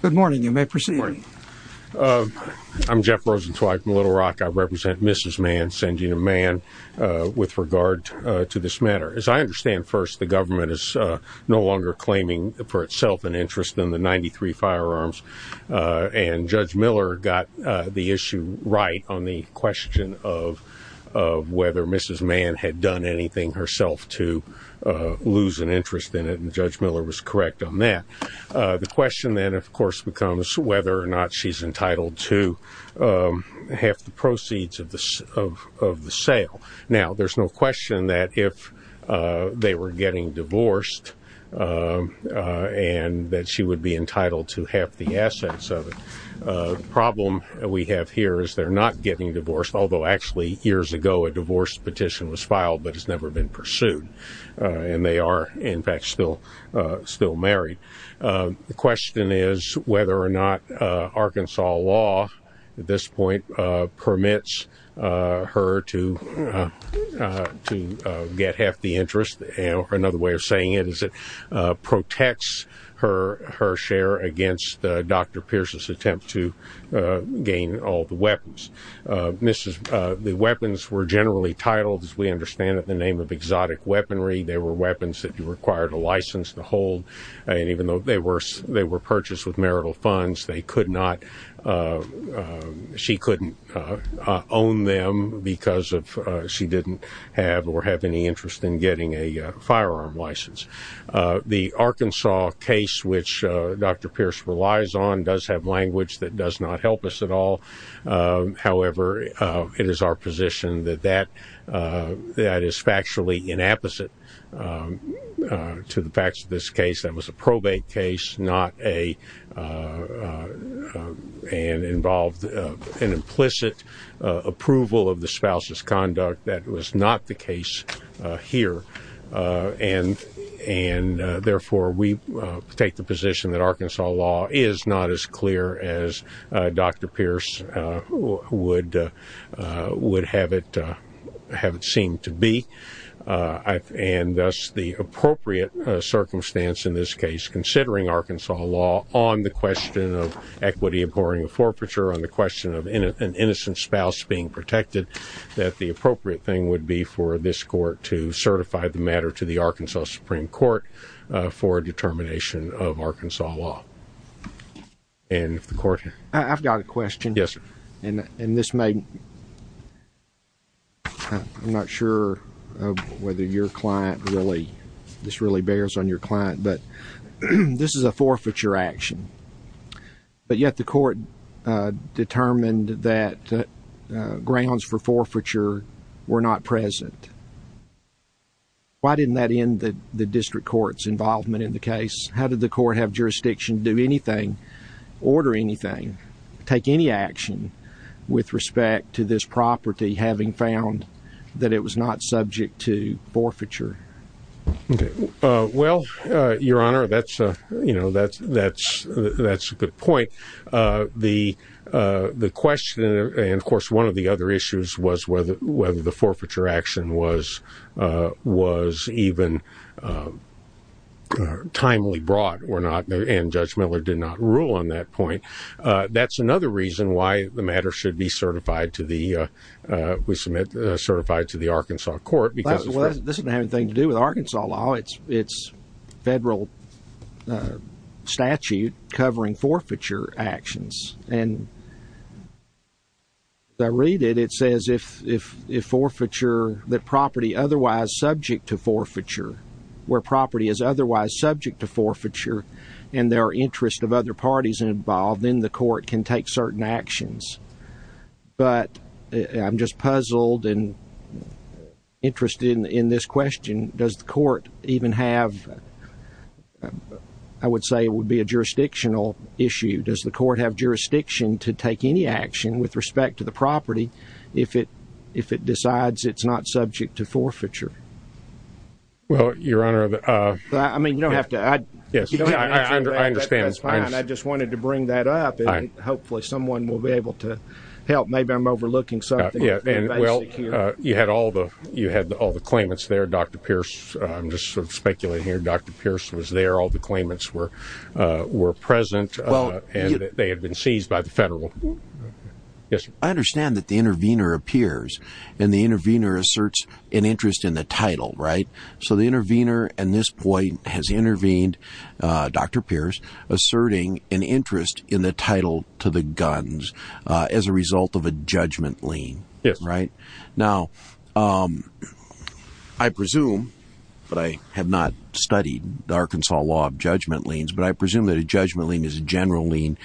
Good morning you may proceed. I'm Jeff Rosenzweig from Little Rock. I represent Mrs. Mann, Sangeeta Mann with regard to this matter. As I understand first the government is no longer claiming for itself an interest in the 93 firearms and Judge Miller got the issue right on the question of whether Mrs. Mann had done anything herself to lose an interest in it and Judge Miller was correct on that. The question then of course becomes whether or not she's entitled to half the proceeds of the sale. Now there's no question that if they were getting divorced and that she would be entitled to half the assets of it. The problem we have here is they're not getting divorced although actually years ago a divorce petition was still married. The question is whether or not Arkansas law at this point permits her to get half the interest. Another way of saying it is it protects her share against Dr. Pierce's attempt to gain all the weapons. The weapons were generally titled as we understand it in the name of exotic weaponry. They were weapons that required a license to hold and even though they were purchased with marital funds they could not, she couldn't own them because she didn't have or have any interest in getting a firearm license. The Arkansas case which Dr. Pierce relies on does have language that does not help us at all. However it is our position that that is factually inapposite to the facts of this case. That was a probate case not a and involved an implicit approval of the spouse's conduct that was not the case here and therefore we take the position that Arkansas law is not as clear as Dr. Pierce would have it seem to be and thus the appropriate circumstance in this case considering Arkansas law on the question of equity abhorring a forfeiture on the question of an innocent spouse being protected that the appropriate thing would be for this court to certify the matter to the Arkansas Supreme Court for a determination of Arkansas law. I've got a question. Yes sir. And this may, I'm not sure whether your client really, this really bears on your client but this is a forfeiture action but yet the court determined that grounds for forfeiture were not present. Why didn't that end the district court's involvement in the case? How did the court have jurisdiction to do anything, order anything, take any action with respect to this property having found that it was not subject to forfeiture? Well your honor that's a good point. The question and of course one of the other issues was whether the forfeiture action was even timely brought or not and Judge Miller did not rule on that point. That's another reason why the matter should be certified to the, we submit certified to the Arkansas court. This doesn't have anything to do with Arkansas law. It's federal statute covering forfeiture actions and I read it, it says if forfeiture, that property otherwise subject to forfeiture, where property is otherwise subject to forfeiture and there are interests of other parties involved in the court can take certain actions. But I'm just puzzled and interested in this question. Does the court even have, I would say it would be a jurisdictional issue. Does the court have jurisdiction to take any action with respect to the property if it decides it's not subject to forfeiture? Well your honor. I mean you don't have to. I understand. I just wanted to bring that up and hopefully someone will be able to help. Maybe I'm You had all the, you had all the claimants there. Dr. Pierce, I'm just sort of speculating here. Dr. Pierce was there. All the claimants were present and they had been seized by the federal. Yes. I understand that the intervener appears and the intervener asserts an interest in the title, right? So the intervener at this point has intervened, Dr. Pierce, asserting an interest in the title to the guns as a result of a judgment lien. Yes. Right? Now I presume, but I have not studied the Arkansas law of judgment liens, but I presume that a judgment lien is a general lien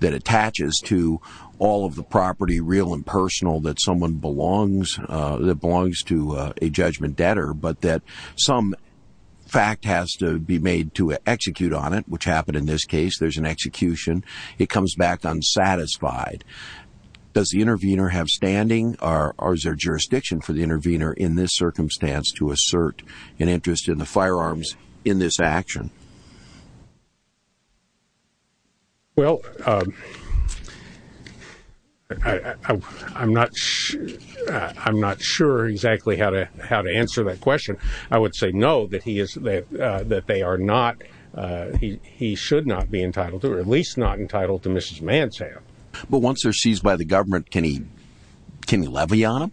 that attaches to all of the property, real and personal, that someone belongs, that belongs to a judgment debtor, but that some fact has to be made to execute on it, which happened in this case. There's an execution. It comes back unsatisfied. Does the intervener have standing or is there jurisdiction for the intervener in this circumstance to assert an interest in the firearms in this action? Well, um, I, I, I'm not sure. I'm not sure exactly how to, how to answer that question. I would say no, that he is, that, uh, that they are not, uh, he, he should not be entitled to, or at least not entitled to Mrs. Mansell. But once they're seized by the government, can he, can he levy on them?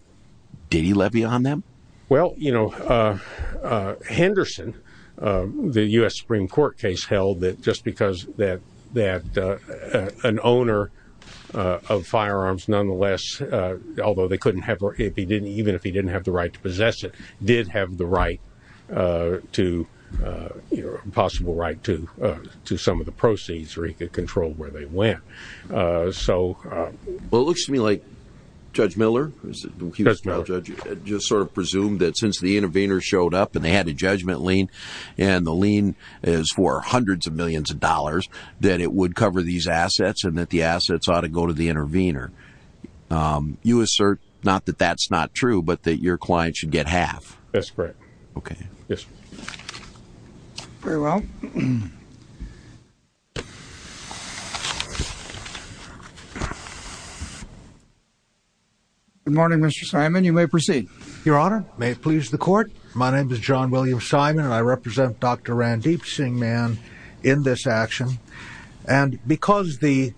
Did he levy on them? Well, you know, uh, uh, Henderson, um, the U S Supreme court case held that just because that, that, uh, uh, an owner, uh, of firearms, nonetheless, uh, although they couldn't have, or if he didn't, even if he didn't have the right to possess it did have the right, uh, to, uh, you know, possible right to, uh, to some of the proceeds or he could control where they went. Uh, so, uh, Well, it looks to me like judge Miller just sort of presumed that since the intervener showed up and they had a judgment lien and the lien is for hundreds of millions of dollars, that it would cover these assets and that the assets ought to go to the intervener. Um, you assert not that that's not true, but that your client should get half. That's correct. Okay. Yes. Very well. Good morning, mr. Simon. You may proceed. Your honor. May it please the court. My name is John Williams, Simon, and I represent dr. Ran deep seeing man in this action. And because the,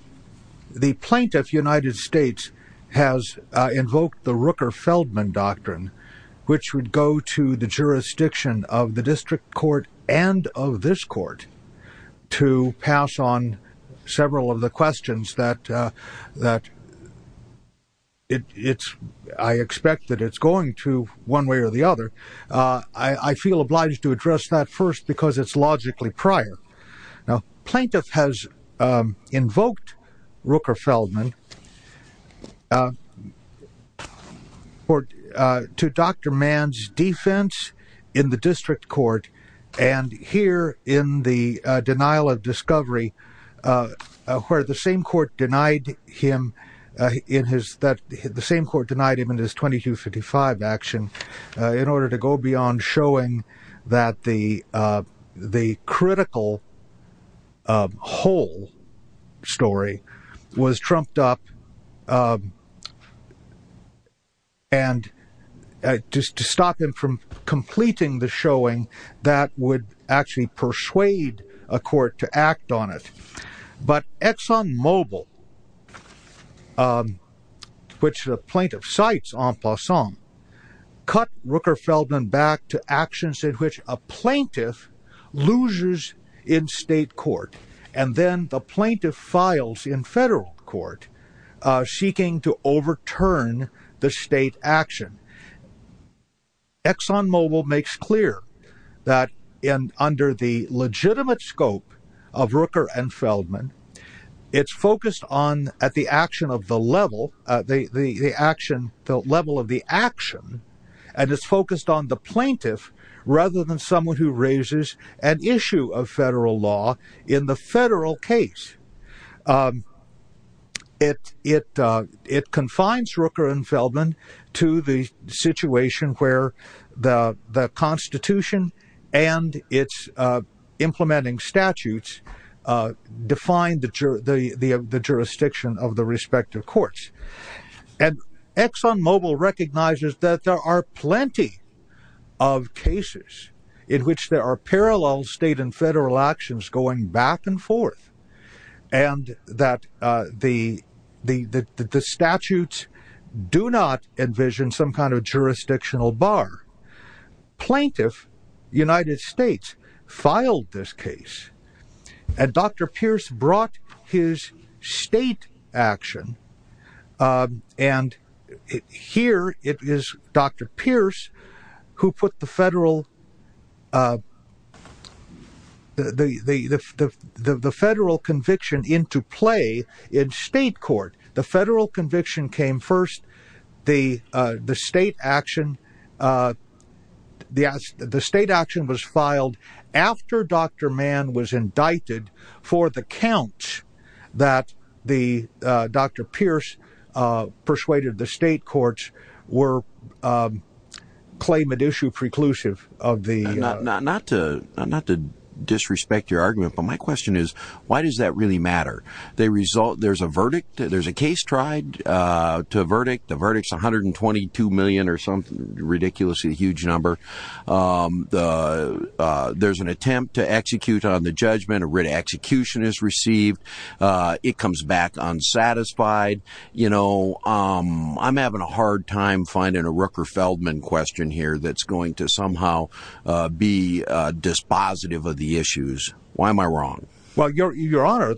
the plaintiff United States has invoked the Rooker Feldman doctrine, which would go to the jurisdiction of the district court and of this court. To pass on several of the questions that, uh, that it's, I expect that it's going to one way or the other. Uh, I, I feel obliged to address that first because it's logically prior. Now plaintiff has, um, invoked Rooker Feldman, uh, or, uh, to dr. Um, whole story was trumped up, um, and, uh, just to stop him from completing the showing that would actually persuade a court to act on it. But Exxon mobile, um, which the plaintiff sites on plus song cut Rooker Feldman back to actions in which a plaintiff losers in state court. And then the plaintiff files in federal court, uh, seeking to overturn the state action. Exxon mobile makes clear that in under the legitimate scope of Rooker and Feldman, it's focused on at the action of the level, uh, the, the, the action, the level of the action. And it's focused on the plaintiff rather than someone who raises an issue of federal law in the federal case. Um, it, it, uh, it confines Rooker and Feldman to the situation where the, the constitution and it's, uh, implementing statutes, uh, define the, the, the, the jurisdiction of the respective courts. And Exxon mobile recognizes that there are plenty of cases in which there are parallel state and federal actions going back and forth and that, uh, the, the, the, the, the statutes do not envision some kind of jurisdictional bar plaintiff. United States filed this case and Dr. Pierce brought his state action. Um, and here it is Dr. Pierce who put the federal, uh, the, the, the, the, the, the federal conviction into play in state court. The federal conviction came first. The, uh, the state action, uh, the, the state action was filed after Dr. Mann was indicted for the count that the, uh, Dr. Pierce, uh, persuaded the state courts were, um, claim it issue preclusive of the, not, not, not to, not, not to disrespect your argument, but my question is why does that really matter? They result. There's a verdict. There's a case tried, uh, to a verdict. The verdict is 122 million or something ridiculously huge number. Um, the, uh, there's an attempt to execute on the judgment. A written execution is received. Uh, it comes back on satisfied, you know, um, I'm having a hard time finding a Rooker Feldman question here. That's going to somehow, uh, be a dispositive of the issues. Why am I wrong? Well, your, your honor,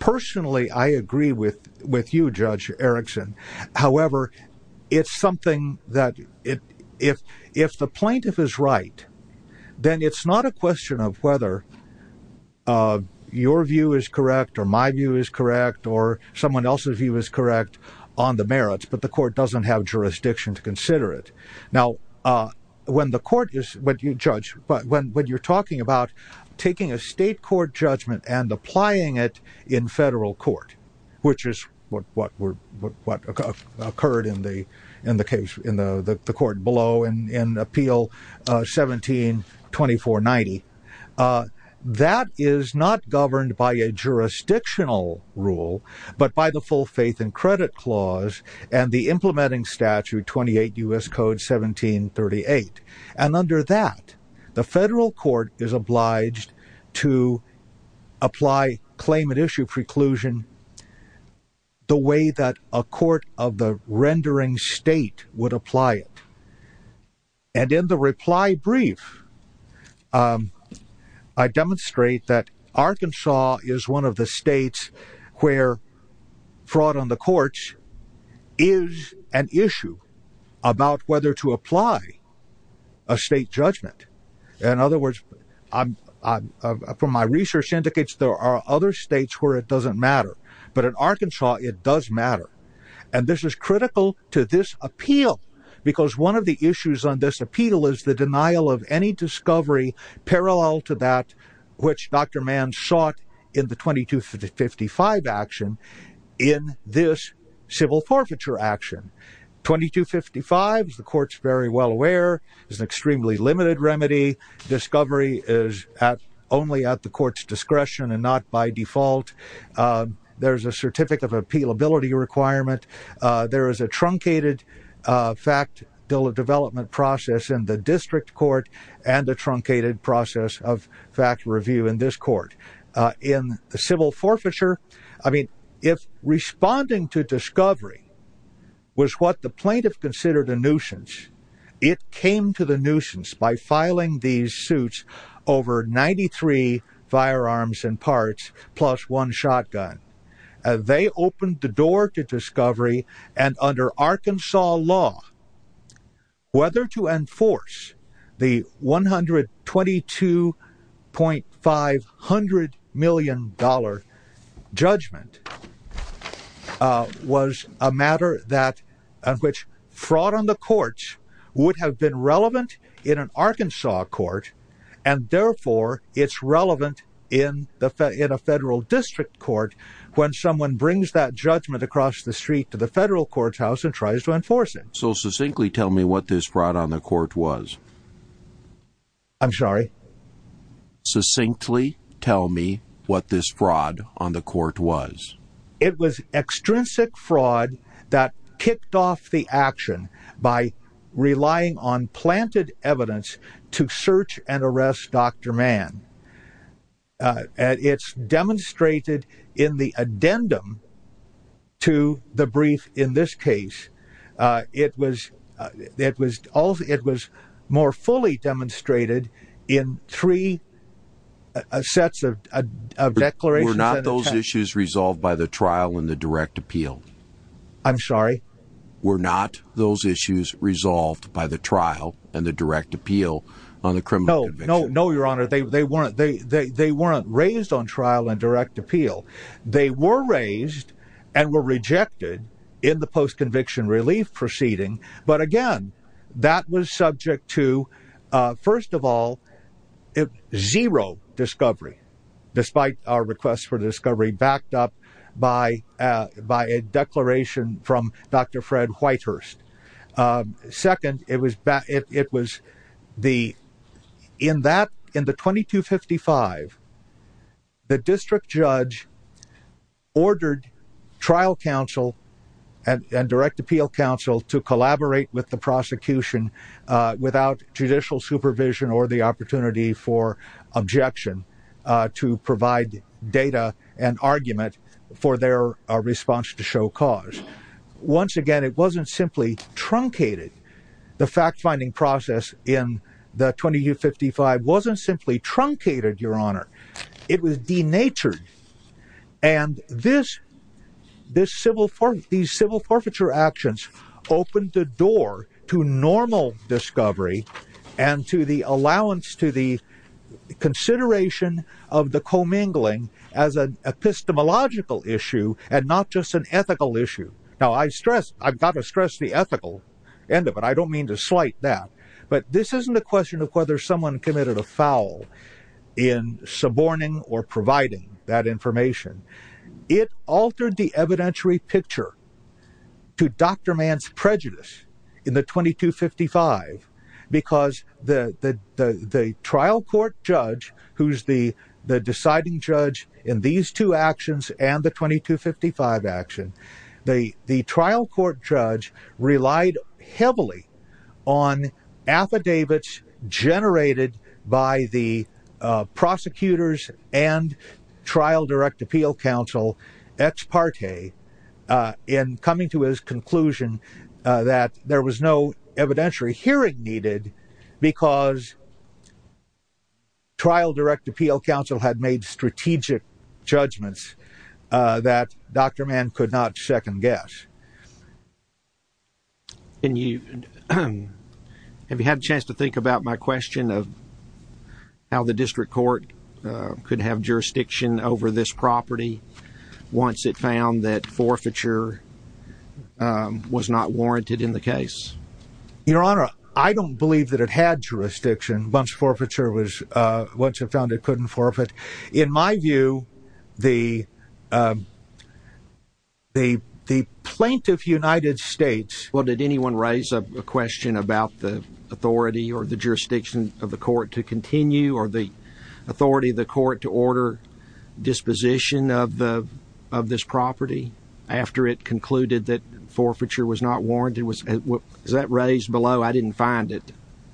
personally, I agree with, with you judge Erickson. However, it's something that if, if the plaintiff is right, then it's not a question of whether, uh, your view is correct or my view is correct or someone else's view is correct on the merits, but the court doesn't have jurisdiction to consider it. Now, uh, when the court is what you judge, but when, when you're talking about taking a state court judgment and applying it in federal court, which is what, what were, what occurred in the, in the case, in the, the court below and, and appeal, uh, 1724 90, uh, that is not governed by a jurisdictional rule, but by the full faith and credit clause and the implementing statute 28 U.S. code 1738. And under that, the federal court is obliged to apply claimant issue preclusion the way that a court of the rendering state would apply it. And in the reply brief, um, I demonstrate that Arkansas is one of the states where fraud on the courts is an issue about whether to apply a state judgment. In other words, um, um, uh, from my research indicates there are other states where it doesn't matter, but in Arkansas, it does matter. And this is critical to this appeal because one of the issues on this appeal is the denial of any discovery parallel to that, which Dr. Mann sought in the 2255 action in this civil forfeiture action. 2255 is the court's very well aware is an extremely limited remedy. Discovery is at only at the court's discretion and not by default. Um, there's a certificate of appeal ability requirement. Uh, there is a truncated, uh, fact bill of development process in the district court and the truncated process of fact review in this court, uh, in the civil forfeiture. I mean, if responding to discovery was what the plaintiff considered a nuisance, it came to the nuisance by filing these suits over 93 firearms and parts plus one shotgun. Uh, they opened the door to discovery and under Arkansas law, whether to enforce the $122.5 million judgment, uh, was a matter that, uh, which fraud on the courts would have been relevant in an Arkansas court. And therefore it's relevant in the fed in a federal district court when someone brings that judgment across the street to the federal courthouse and tries to enforce it. So succinctly tell me what this fraud on the court was. I'm sorry. Succinctly tell me what this fraud on the court was. It was extrinsic fraud that kicked off the action by relying on planted evidence to search and arrest Dr. Man. Uh, it's demonstrated in the addendum to the brief. In this case, uh, it was, uh, it was all, it was more fully demonstrated in three sets of declarations. Were not those issues resolved by the trial in the direct appeal? I'm sorry. Were not those issues resolved by the trial and the direct appeal on the criminal? No, no, no. Your honor, they, they weren't, they, they, they weren't raised on trial and direct appeal. They were raised and were rejected in the post conviction relief proceeding. But again, that was subject to, uh, first of all, zero discovery, despite our requests for discovery backed up by, uh, by a declaration from Dr. Fred Whitehurst. Um, second, it was bad. It was the, in that, in the 2255, the district judge ordered trial counsel and direct appeal counsel to collaborate with the prosecution, uh, without judicial supervision or the opportunity for objection, uh, to provide data and argument for their response to show cause. Once again, it wasn't simply truncated. The fact finding process in the 2255 wasn't simply truncated, your honor. It was denatured. And this, this civil for, these civil forfeiture actions opened the door to normal discovery and to the allowance, to the consideration of the commingling as an epistemological issue and not just an ethical issue. Now I stress, I've got to stress the ethical end of it. I don't mean to slight that, but this isn't a question of whether someone committed a foul in suborning or providing that information. It altered the evidentiary picture to Dr. Mann's prejudice in the 2255 because the, the, the, the trial court judge, who's the, the deciding judge in these two actions and the 2255 action, the, the trial court judge relied heavily on affidavits generated by the, uh, prosecutors and trial direct appeal counsel. Ex parte, uh, in coming to his conclusion, uh, that there was no evidentiary hearing needed because trial direct appeal counsel had made strategic judgments, uh, that Dr. Mann could not second guess. And you, have you had a chance to think about my question of how the district court, uh, could have jurisdiction over this property once it found that forfeiture, um, was not warranted in the case? Your Honor, I don't believe that it had jurisdiction once forfeiture was, uh, once it found it couldn't forfeit. In my view, the, um, the, the plaintiff United States. Well, did anyone raise a question about the authority or the jurisdiction of the court to continue or the authority of the court to order disposition of the, of this property after it concluded that forfeiture was not warranted? Was that raised below? I didn't find it.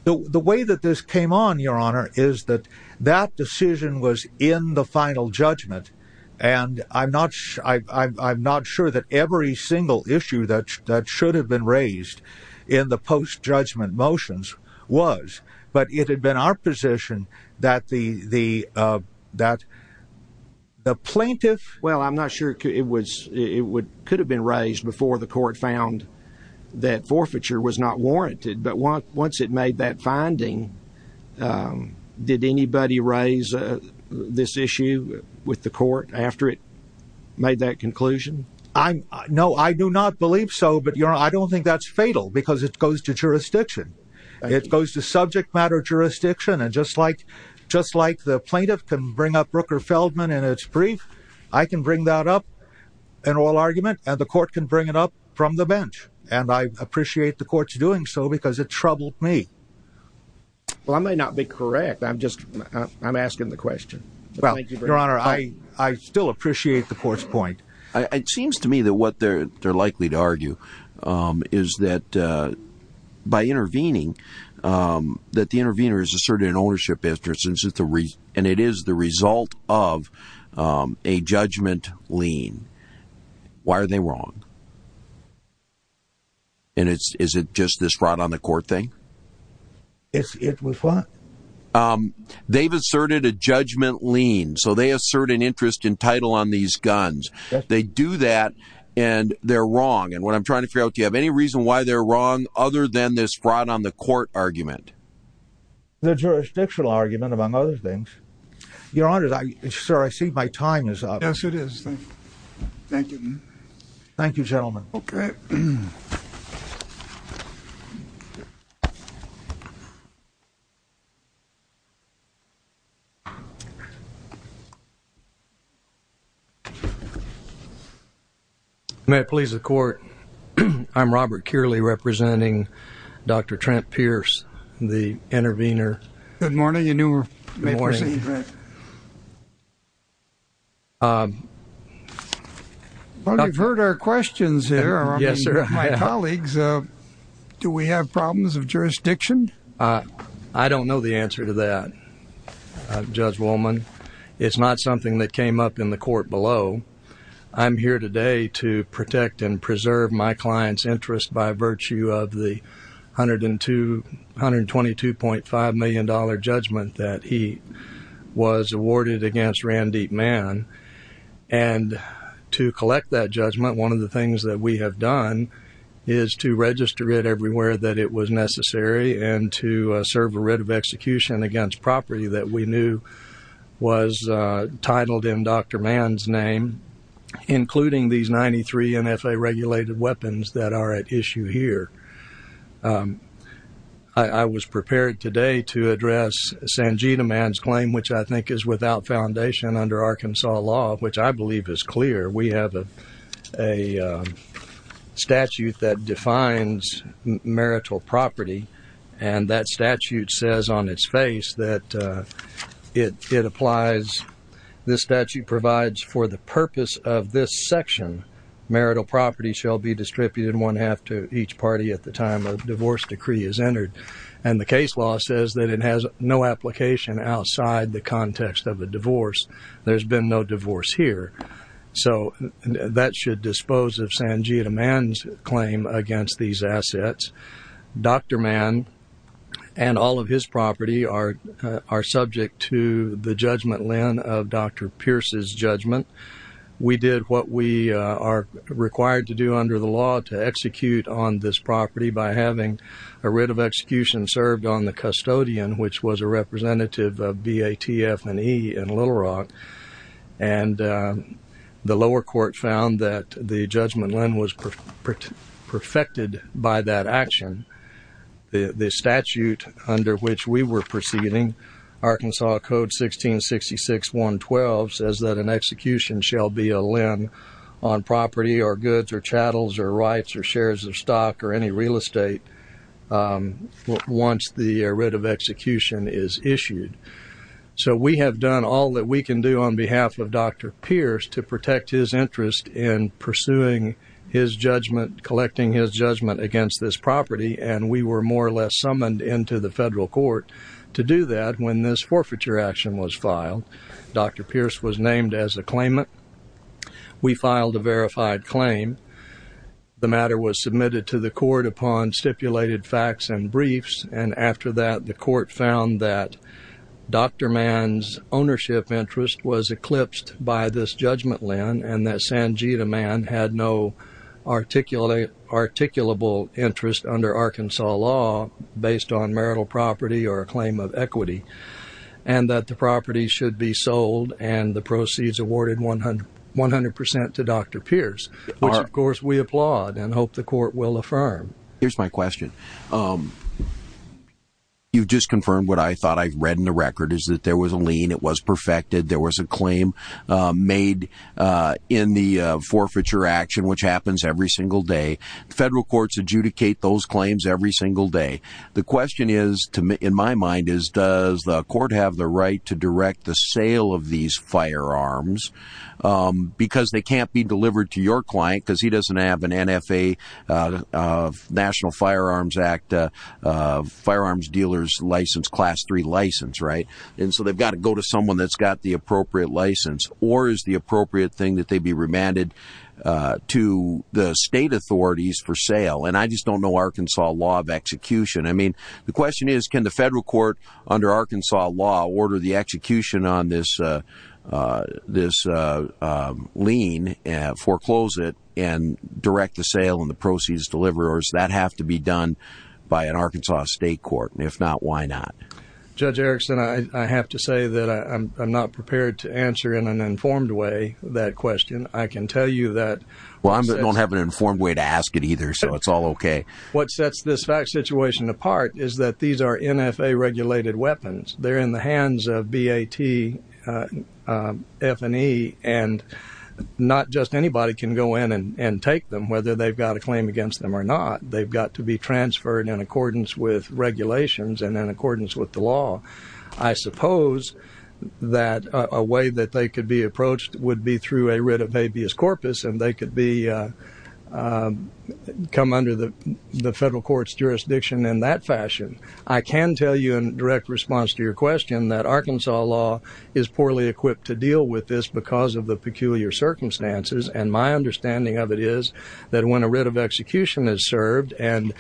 The way that this came on, Your Honor, is that that decision was in the final judgment. And I'm not, I'm not sure that every single issue that should have been raised in the post judgment motions was, but it had been our position that the, the, uh, that the plaintiff. Well, I'm not sure it was, it would, could have been raised before the court found that forfeiture was not warranted. But once, once it made that finding, um, did anybody raise this issue with the court after it made that conclusion? I'm no, I do not believe so, but Your Honor, I don't think that's fatal because it goes to jurisdiction. It goes to subject matter jurisdiction. And just like, just like the plaintiff can bring up Rooker Feldman and it's brief, I can bring that up and all argument and the court can bring it up from the bench. And I appreciate the courts doing so because it troubled me. Well, I may not be correct. I'm just, I'm asking the question. Well, Your Honor, I, I still appreciate the court's point. It seems to me that what they're, they're likely to argue, um, is that, uh, by intervening, um, that the intervener is asserted an ownership interest. And it is the result of, um, a judgment lien. Why are they wrong? And it's, is it just this rot on the court thing? It's, it was what? Um, they've asserted a judgment lien, so they assert an interest in title on these guns. They do that and they're wrong. And what I'm trying to figure out, do you have any reason why they're wrong other than this fraud on the court argument? The jurisdictional argument among other things. Your Honor, I, sir, I see my time is up. Yes, it is. Thank you. Thank you, gentlemen. Okay. May it please the court. I'm Robert Kearley representing Dr. Trent Pierce, the intervener. Good morning. You may proceed. Good morning. Um. Well, you've heard our questions here. Yes, sir. My colleagues, uh, do we have problems of jurisdiction? Uh, I don't know the answer to that, uh, Judge Woolman. It's not something that came up in the court below. I'm here today to protect and preserve my client's interest by virtue of the $122.5 million judgment that he was awarded against Randy Mann. And to collect that judgment, one of the things that we have done is to register it everywhere that it was necessary and to, uh, serve a writ of execution against property that we knew was, uh, titled in Dr. Mann's name, including these 93 NFA regulated weapons that are at issue here. Um, I was prepared today to address Sanjita Mann's claim, which I think is without foundation under Arkansas law, which I believe is clear. We have a statute that defines marital property, and that statute says on its face that it applies. This statute provides for the purpose of this section. Marital property shall be distributed one half to each party at the time a divorce decree is entered. And the case law says that it has no application outside the context of a divorce. There's been no divorce here. So that should dispose of Sanjita Mann's claim against these assets. Dr. Mann and all of his property are subject to the judgment len of Dr. Pierce's judgment. We did what we are required to do under the law to execute on this property by having a writ of execution served on the custodian, which was a representative of BATF&E in Little Rock. And the lower court found that the judgment len was perfected by that action. The statute under which we were proceeding, Arkansas Code 1666.1.12, says that an execution shall be a len on property or goods or chattels or rights or shares of stock or any real estate once the writ of execution is issued. So we have done all that we can do on behalf of Dr. Pierce to protect his interest in pursuing his judgment, collecting his judgment against this property. And we were more or less summoned into the federal court to do that when this forfeiture action was filed. Dr. Pierce was named as a claimant. We filed a verified claim. The matter was submitted to the court upon stipulated facts and briefs. And after that, the court found that Dr. Mann's ownership interest was eclipsed by this judgment len and that Sanjita Mann had no articulable interest under Arkansas law based on marital property or a claim of equity. And that the property should be sold and the proceeds awarded 100% to Dr. Pierce, which, of course, we applaud and hope the court will affirm. Here's my question. You've just confirmed what I thought I've read in the record is that there was a lien. It was perfected. There was a claim made in the forfeiture action, which happens every single day. Federal courts adjudicate those claims every single day. The question is, in my mind, is does the court have the right to direct the sale of these firearms? Because they can't be delivered to your client because he doesn't have an NFA, National Firearms Act, firearms dealers license, class three license, right? And so they've got to go to someone that's got the appropriate license. Or is the appropriate thing that they be remanded to the state authorities for sale? And I just don't know Arkansas law of execution. I mean, the question is, can the federal court under Arkansas law order the execution on this lien, foreclose it, and direct the sale and the proceeds delivered? Or does that have to be done by an Arkansas state court? And if not, why not? Judge Erickson, I have to say that I'm not prepared to answer in an informed way that question. I can tell you that. Well, I don't have an informed way to ask it either, so it's all OK. What sets this fact situation apart is that these are NFA regulated weapons. They're in the hands of BAT, F&E, and not just anybody can go in and take them, whether they've got a claim against them or not. They've got to be transferred in accordance with regulations and in accordance with the law. I suppose that a way that they could be approached would be through a writ of habeas corpus, and they could come under the federal court's jurisdiction in that fashion. I can tell you in direct response to your question that Arkansas law is poorly equipped to deal with this because of the peculiar circumstances. And my understanding of it is that when a writ of execution is served and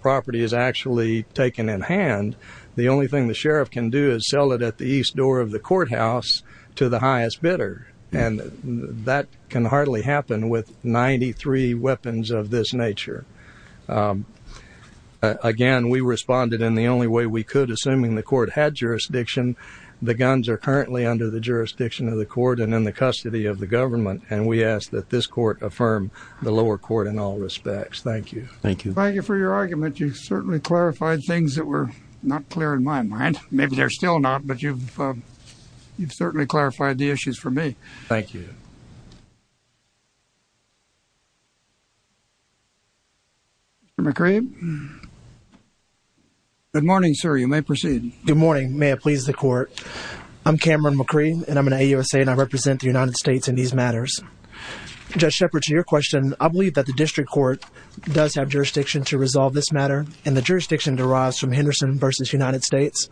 property is actually taken in hand, the only thing the sheriff can do is sell it at the east door of the courthouse to the highest bidder, and that can hardly happen with 93 weapons of this nature. Again, we responded in the only way we could, assuming the court had jurisdiction. The guns are currently under the jurisdiction of the court and in the custody of the government, and we ask that this court affirm the lower court in all respects. Thank you. Thank you. Thank you for your argument. You certainly clarified things that were not clear in my mind. Maybe they're still not, but you've certainly clarified the issues for me. Thank you. Mr. McCree? Good morning, sir. You may proceed. Good morning. May it please the court. I'm Cameron McCree, and I'm an AUSA, and I represent the United States in these matters. Judge Shepard, to your question, I believe that the district court does have jurisdiction to resolve this matter, and the jurisdiction derives from Henderson v. United States.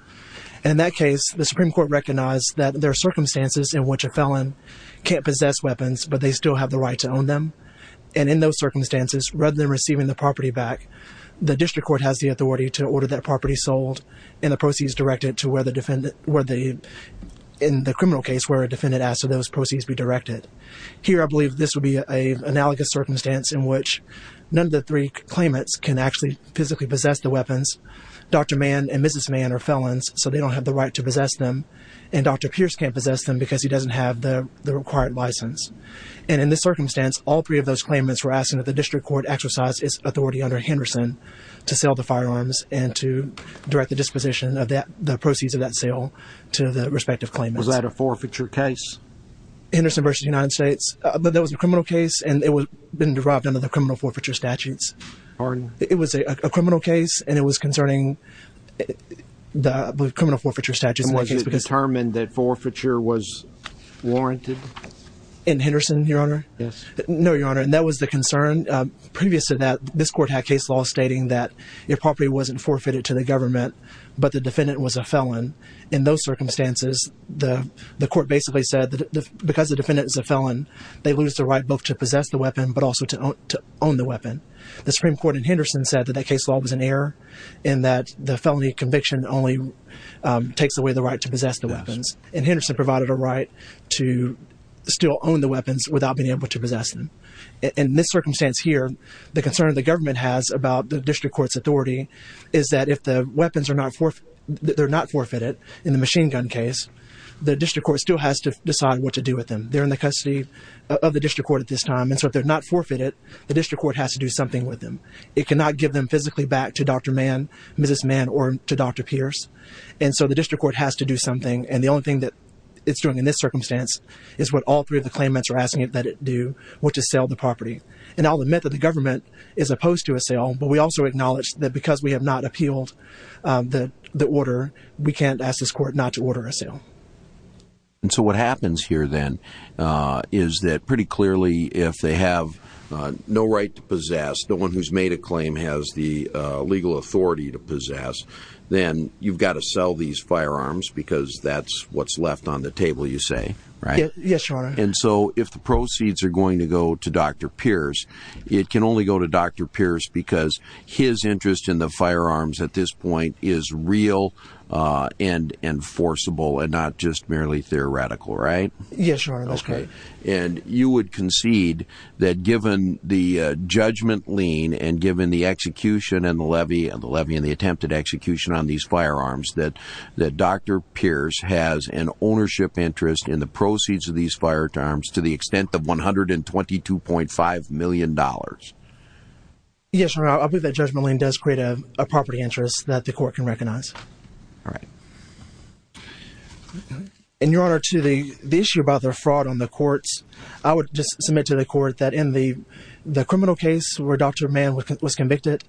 And in that case, the Supreme Court recognized that there are circumstances in which a felon can't possess weapons, but they still have the right to own them. And in those circumstances, rather than receiving the property back, the district court has the authority to order that property sold in the criminal case where a defendant asks that those proceeds be directed. Here, I believe this would be an analogous circumstance in which none of the three claimants can actually physically possess the weapons. Dr. Mann and Mrs. Mann are felons, so they don't have the right to possess them, and Dr. Pierce can't possess them because he doesn't have the required license. And in this circumstance, all three of those claimants were asking that the district court exercise its authority under Henderson to sell the firearms and to direct the disposition of the proceeds of that sale to the respective claimants. Was that a forfeiture case? Henderson v. United States? That was a criminal case, and it had been derived under the criminal forfeiture statutes. Pardon? It was a criminal case, and it was concerning the criminal forfeiture statutes. And was it determined that forfeiture was warranted? In Henderson, Your Honor? Yes. No, Your Honor. And that was the concern. Previous to that, this court had case law stating that the property wasn't forfeited to the government, but the defendant was a felon. In those circumstances, the court basically said that because the defendant is a felon, they lose the right both to possess the weapon but also to own the weapon. The Supreme Court in Henderson said that that case law was an error in that the felony conviction only takes away the right to possess the weapons, and Henderson provided a right to still own the weapons without being able to possess them. In this circumstance here, the concern the government has about the district court's authority is that if the weapons are not forfeited in the machine gun case, the district court still has to decide what to do with them. They're in the custody of the district court at this time, and so if they're not forfeited, the district court has to do something with them. It cannot give them physically back to Dr. Mann, Mrs. Mann, or to Dr. Pierce, and so the district court has to do something, and the only thing that it's doing in this circumstance is what all three of the claimants are asking that it do, which is sell the property. And I'll admit that the government is opposed to a sale, but we also acknowledge that because we have not appealed the order, we can't ask this court not to order a sale. And so what happens here then is that pretty clearly if they have no right to possess, no one who's made a claim has the legal authority to possess, then you've got to sell these firearms because that's what's left on the table, you say, right? Yes, Your Honor. And so if the proceeds are going to go to Dr. Pierce, it can only go to Dr. Pierce because his interest in the firearms at this point is real and enforceable and not just merely theoretical, right? Yes, Your Honor. And you would concede that given the judgment lien and given the execution and the levy and the attempted execution on these firearms, that Dr. Pierce has an ownership interest in the proceeds of these firearms to the extent of $122.5 million? Yes, Your Honor. I believe that judgment lien does create a property interest that the court can recognize. All right. And, Your Honor, to the issue about the fraud on the courts, I would just submit to the court that in the criminal case where Dr. Mann was convicted,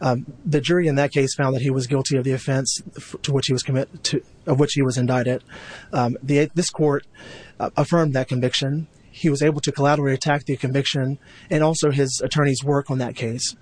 the jury in that case found that he was guilty of the offense of which he was indicted. This court affirmed that conviction. He was able to collaterally attack the conviction and also his attorney's work on that case.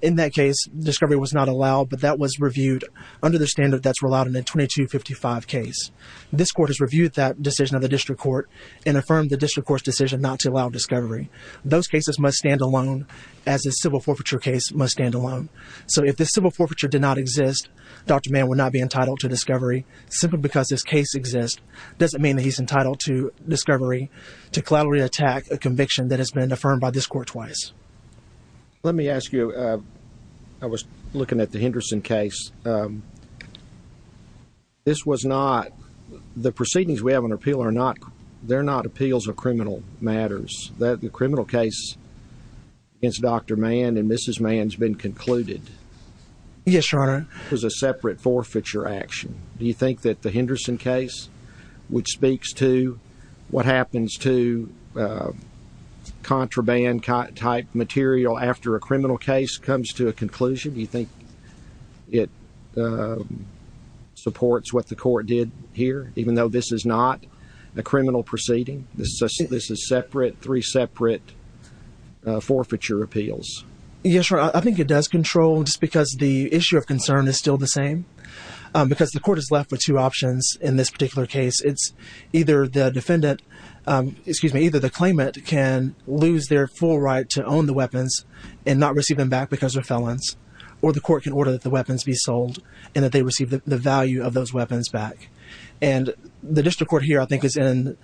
In that case, discovery was not allowed, but that was reviewed under the standard that's allowed in a 2255 case. This court has reviewed that decision of the district court and affirmed the district court's decision not to allow discovery. Those cases must stand alone as a civil forfeiture case must stand alone. So if the civil forfeiture did not exist, Dr. Mann would not be entitled to discovery. Simply because this case exists doesn't mean that he's entitled to discovery, to collaterally attack a conviction that has been affirmed by this court twice. Let me ask you. I was looking at the Henderson case. The proceedings we have on appeal are not appeals of criminal matters. The criminal case against Dr. Mann and Mrs. Mann has been concluded. Yes, Your Honor. It was a separate forfeiture action. Do you think that the Henderson case, which speaks to what happens to contraband-type material after a criminal case comes to a conclusion, do you think it supports what the court did here, even though this is not a criminal proceeding? This is separate, three separate forfeiture appeals. Yes, Your Honor. I think it does control just because the issue of concern is still the same. Because the court is left with two options in this particular case. Either the claimant can lose their full right to own the weapons and not receive them back because they're felons, or the court can order that the weapons be sold and that they receive the value of those weapons back. And the district court here, I think, is in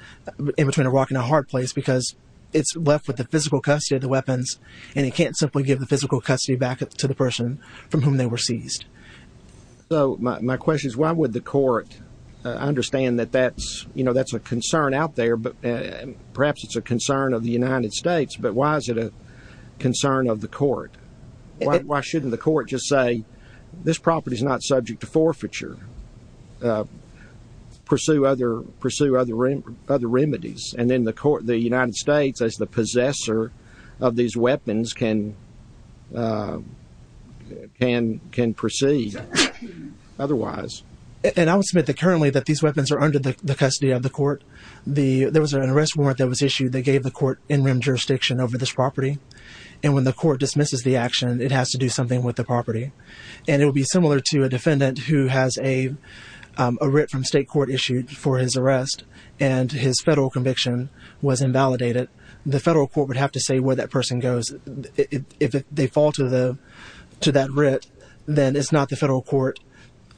between a rock and a hard place because it's left with the physical custody of the weapons, and it can't simply give the physical custody back to the person from whom they were seized. My question is, why would the court understand that that's a concern out there? Perhaps it's a concern of the United States, but why is it a concern of the court? Why shouldn't the court just say, this property is not subject to forfeiture? Pursue other remedies. And then the United States, as the possessor of these weapons, can proceed otherwise. And I would submit that currently these weapons are under the custody of the court. There was an arrest warrant that was issued that gave the court in-rim jurisdiction over this property. And when the court dismisses the action, it has to do something with the property. And it would be similar to a defendant who has a writ from state court issued for his arrest, and his federal conviction was invalidated. The federal court would have to say where that person goes. If they fall to that writ, then it's not the federal court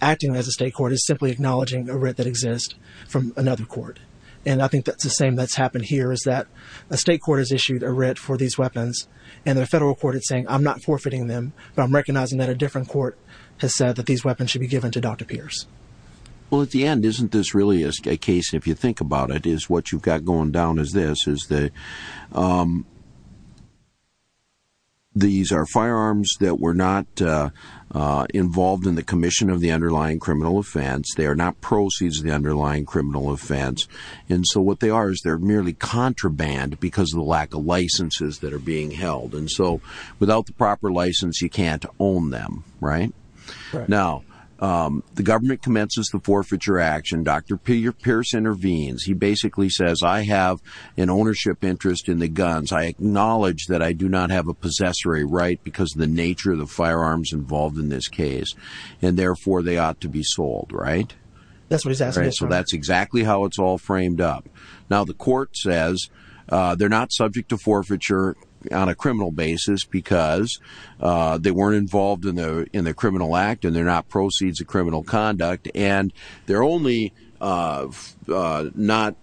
acting as a state court. It's simply acknowledging a writ that exists from another court. And I think that's the same that's happened here, is that a state court has issued a writ for these weapons, and the federal court is saying, I'm not forfeiting them, but I'm recognizing that a different court has said that these weapons should be given to Dr. Pierce. Well, at the end, isn't this really a case, if you think about it, is what you've got going down is this, is that these are firearms that were not involved in the commission of the underlying criminal offense. They are not proceeds of the underlying criminal offense. And so what they are is they're merely contraband because of the lack of licenses that are being held. And so without the proper license, you can't own them, right? Now, the government commences the forfeiture action. Dr. Pierce intervenes. He basically says, I have an ownership interest in the guns. I acknowledge that I do not have a possessory right because of the nature of the firearms involved in this case, and therefore they ought to be sold, right? That's what he's asking. So that's exactly how it's all framed up. Now, the court says they're not subject to forfeiture on a criminal basis because they weren't involved in the criminal act and they're not proceeds of criminal conduct, and they're only not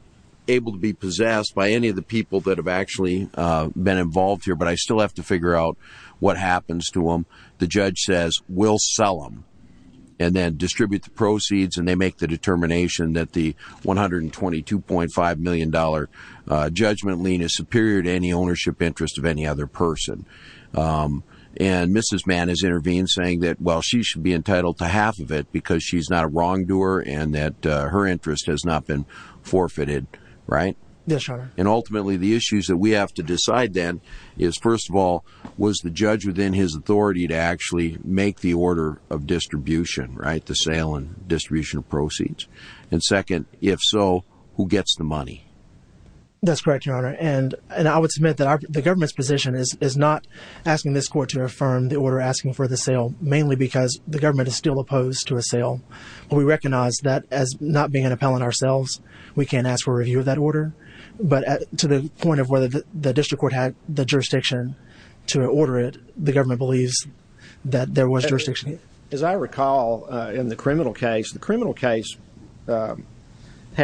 able to be possessed by any of the people that have actually been involved here. But I still have to figure out what happens to them. The judge says we'll sell them and then distribute the proceeds, and they make the determination that the $122.5 million judgment lien is superior to any ownership interest of any other person. And Mrs. Mann has intervened saying that, well, she should be entitled to half of it because she's not a wrongdoer and that her interest has not been forfeited, right? Yes, Your Honor. And ultimately, the issues that we have to decide then is, first of all, was the judge within his authority to actually make the order of distribution, right, to sale and distribution of proceeds? And second, if so, who gets the money? That's correct, Your Honor. And I would submit that the government's position is not asking this court to affirm the order asking for the sale, mainly because the government is still opposed to a sale. We recognize that as not being an appellant ourselves, we can't ask for a review of that order. But to the point of whether the district court had the jurisdiction to order it, the government believes that there was jurisdiction. As I recall in the criminal case, the criminal case had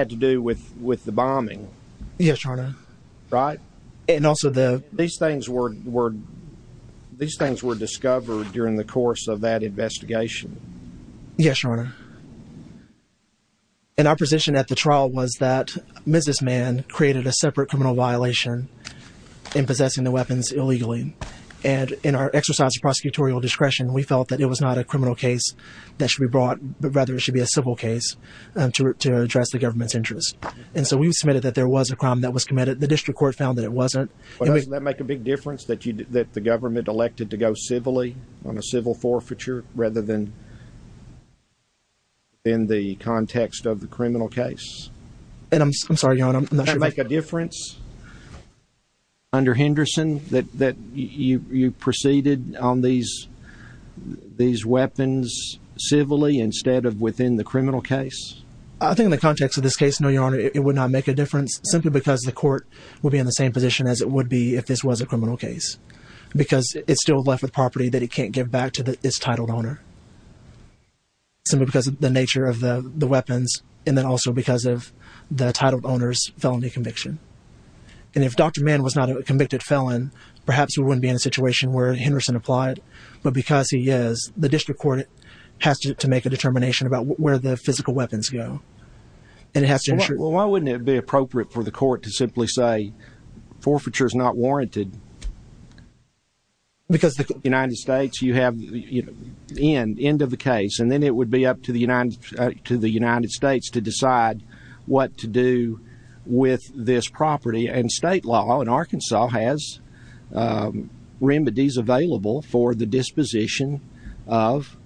to do with the bombing. Yes, Your Honor. Right? And also the – These things were discovered during the course of that investigation. Yes, Your Honor. And our position at the trial was that Mrs. Mann created a separate criminal violation in possessing the weapons illegally. And in our exercise of prosecutorial discretion, we felt that it was not a criminal case that should be brought, but rather it should be a civil case to address the government's interest. And so we submitted that there was a crime that was committed. The district court found that it wasn't. But doesn't that make a big difference that the government elected to go civilly on a civil forfeiture rather than in the context of the criminal case? I'm sorry, Your Honor. Doesn't that make a difference under Henderson that you proceeded on these weapons civilly instead of within the criminal case? I think in the context of this case, no, Your Honor, it would not make a difference simply because the court would be in the same position as it would be if this was a criminal case because it's still left with property that it can't give back to its titled owner simply because of the nature of the weapons and then also because of the titled owner's felony conviction. And if Dr. Mann was not a convicted felon, perhaps we wouldn't be in a situation where Henderson applied. But because he is, the district court has to make a determination about where the physical weapons go. Why wouldn't it be appropriate for the court to simply say forfeiture is not warranted? Because the United States, you have the end of the case and then it would be up to the United States to decide what to do with this property. And state law in Arkansas has remedies available for the disposition of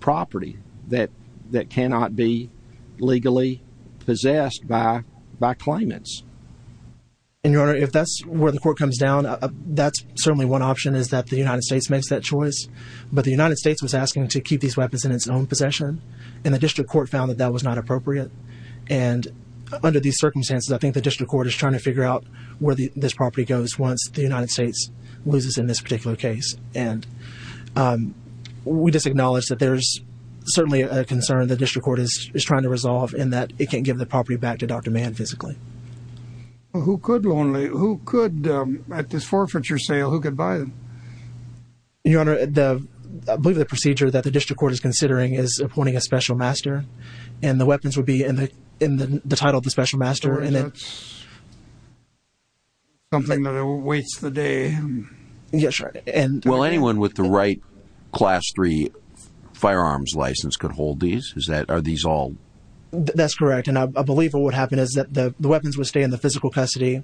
property that cannot be legally possessed by claimants. And, Your Honor, if that's where the court comes down, that's certainly one option is that the United States makes that choice. But the United States was asking to keep these weapons in its own possession. And the district court found that that was not appropriate. And under these circumstances, I think the district court is trying to figure out where this property goes once the United States loses in this particular case. And we just acknowledge that there's certainly a concern the district court is trying to resolve in that it can't give the property back to Dr. Mann physically. Who could, at this forfeiture sale, who could buy them? Your Honor, I believe the procedure that the district court is considering is appointing a special master. And the weapons would be in the title of the special master. That's something that awaits the day. Yes, sir. Will anyone with the right Class III firearms license could hold these? Are these all? That's correct. And I believe what would happen is that the weapons would stay in the physical custody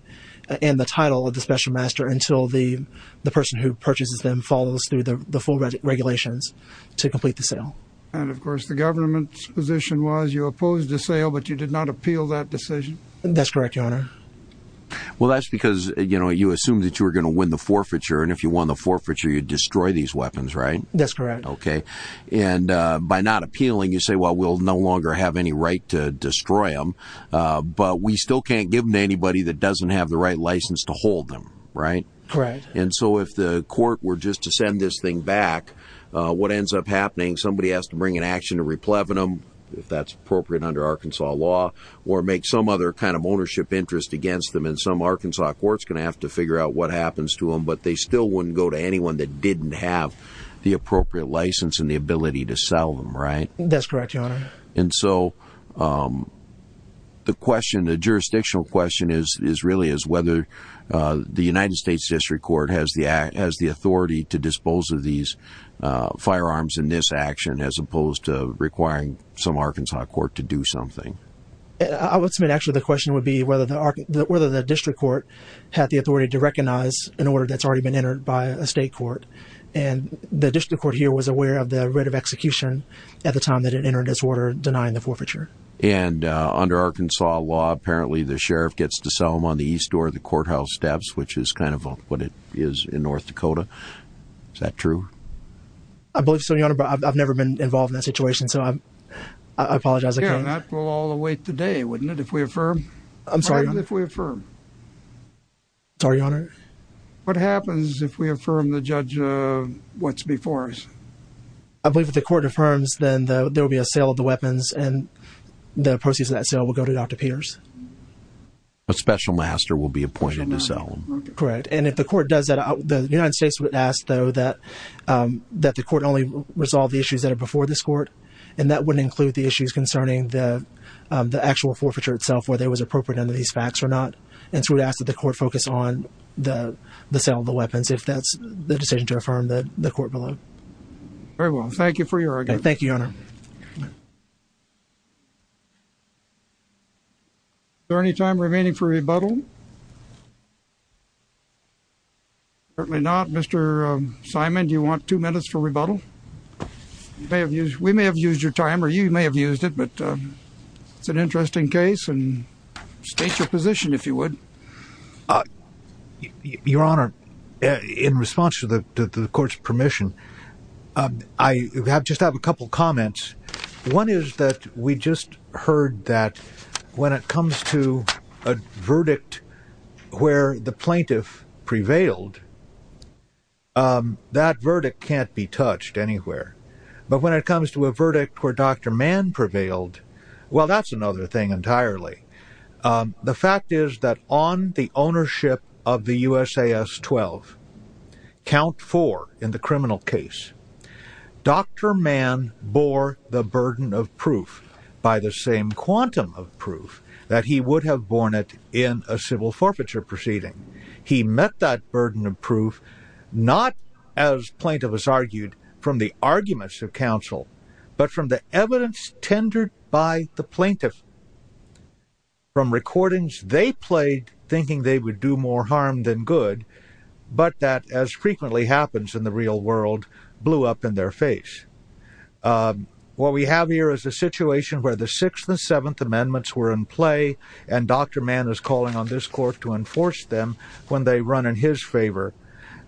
and the title of the special master until the person who purchases them follows through the full regulations to complete the sale. And, of course, the government's position was you opposed the sale, but you did not appeal that decision? That's correct, Your Honor. Well, that's because, you know, you assumed that you were going to win the forfeiture. And if you won the forfeiture, you'd destroy these weapons, right? That's correct. Okay. And by not appealing, you say, well, we'll no longer have any right to destroy them, but we still can't give them to anybody that doesn't have the right license to hold them, right? Correct. And so if the court were just to send this thing back, what ends up happening, somebody has to bring an action to repleven them, if that's appropriate under Arkansas law, or make some other kind of ownership interest against them. And some Arkansas court's going to have to figure out what happens to them, but they still wouldn't go to anyone that didn't have the appropriate license and the ability to sell them, right? That's correct, Your Honor. And so the question, the jurisdictional question really is whether the United States District Court has the authority to dispose of these firearms in this action, as opposed to requiring some Arkansas court to do something. I would submit actually the question would be whether the district court had the authority to recognize an order that's already been entered by a state court, and the district court here was aware of the writ of execution at the time that it entered this order denying the forfeiture. And under Arkansas law, apparently the sheriff gets to sell them on the east door of the courthouse steps, which is kind of what it is in North Dakota. Is that true? I believe so, Your Honor, but I've never been involved in that situation, so I apologize. Yeah, that would all await the day, wouldn't it, if we affirm? I'm sorry? Pardon if we affirm? Sorry, Your Honor. What happens if we affirm the judge what's before us? I believe if the court affirms, then there will be a sale of the weapons, and the proceeds of that sale will go to Dr. Peters. A special master will be appointed to sell them. Correct, and if the court does that, the United States would ask, though, that the court only resolve the issues that are before this court, and that wouldn't include the issues concerning the actual forfeiture itself, whether it was appropriate under these facts or not. And so we'd ask that the court focus on the sale of the weapons, if that's the decision to affirm the court below. Very well. Thank you for your argument. Thank you, Your Honor. Is there any time remaining for rebuttal? Certainly not. Mr. Simon, do you want two minutes for rebuttal? We may have used your time, or you may have used it, but it's an interesting case, and state your position, if you would. Your Honor, in response to the court's permission, I just have a couple comments. One is that we just heard that when it comes to a verdict where the plaintiff prevailed, that verdict can't be touched anywhere. But when it comes to a verdict where Dr. Mann prevailed, well, that's another thing entirely. The fact is that on the ownership of the USAS 12, count four in the criminal case, Dr. Mann bore the burden of proof by the same quantum of proof that he would have borne it in a civil forfeiture proceeding. He met that burden of proof not, as plaintiff has argued, from the arguments of counsel, but from the evidence tendered by the plaintiff, from recordings they played thinking they would do more harm than good, but that, as frequently happens in the real world, blew up in their face. What we have here is a situation where the Sixth and Seventh Amendments were in play, and Dr. Mann is calling on this court to enforce them when they run in his favor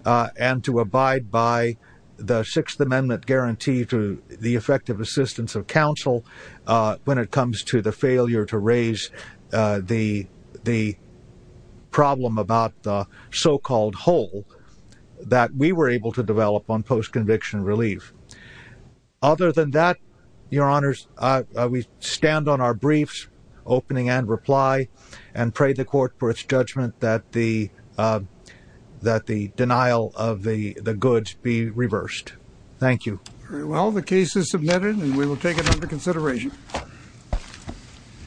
and to abide by the Sixth Amendment guarantee to the effective assistance of counsel when it comes to the failure to raise the problem about the so-called hole that we were able to develop on post-conviction relief. Other than that, Your Honors, we stand on our briefs, opening and reply, and pray the court for its judgment that the denial of the goods be reversed. Thank you. Well, the case is submitted, and we will take it under consideration.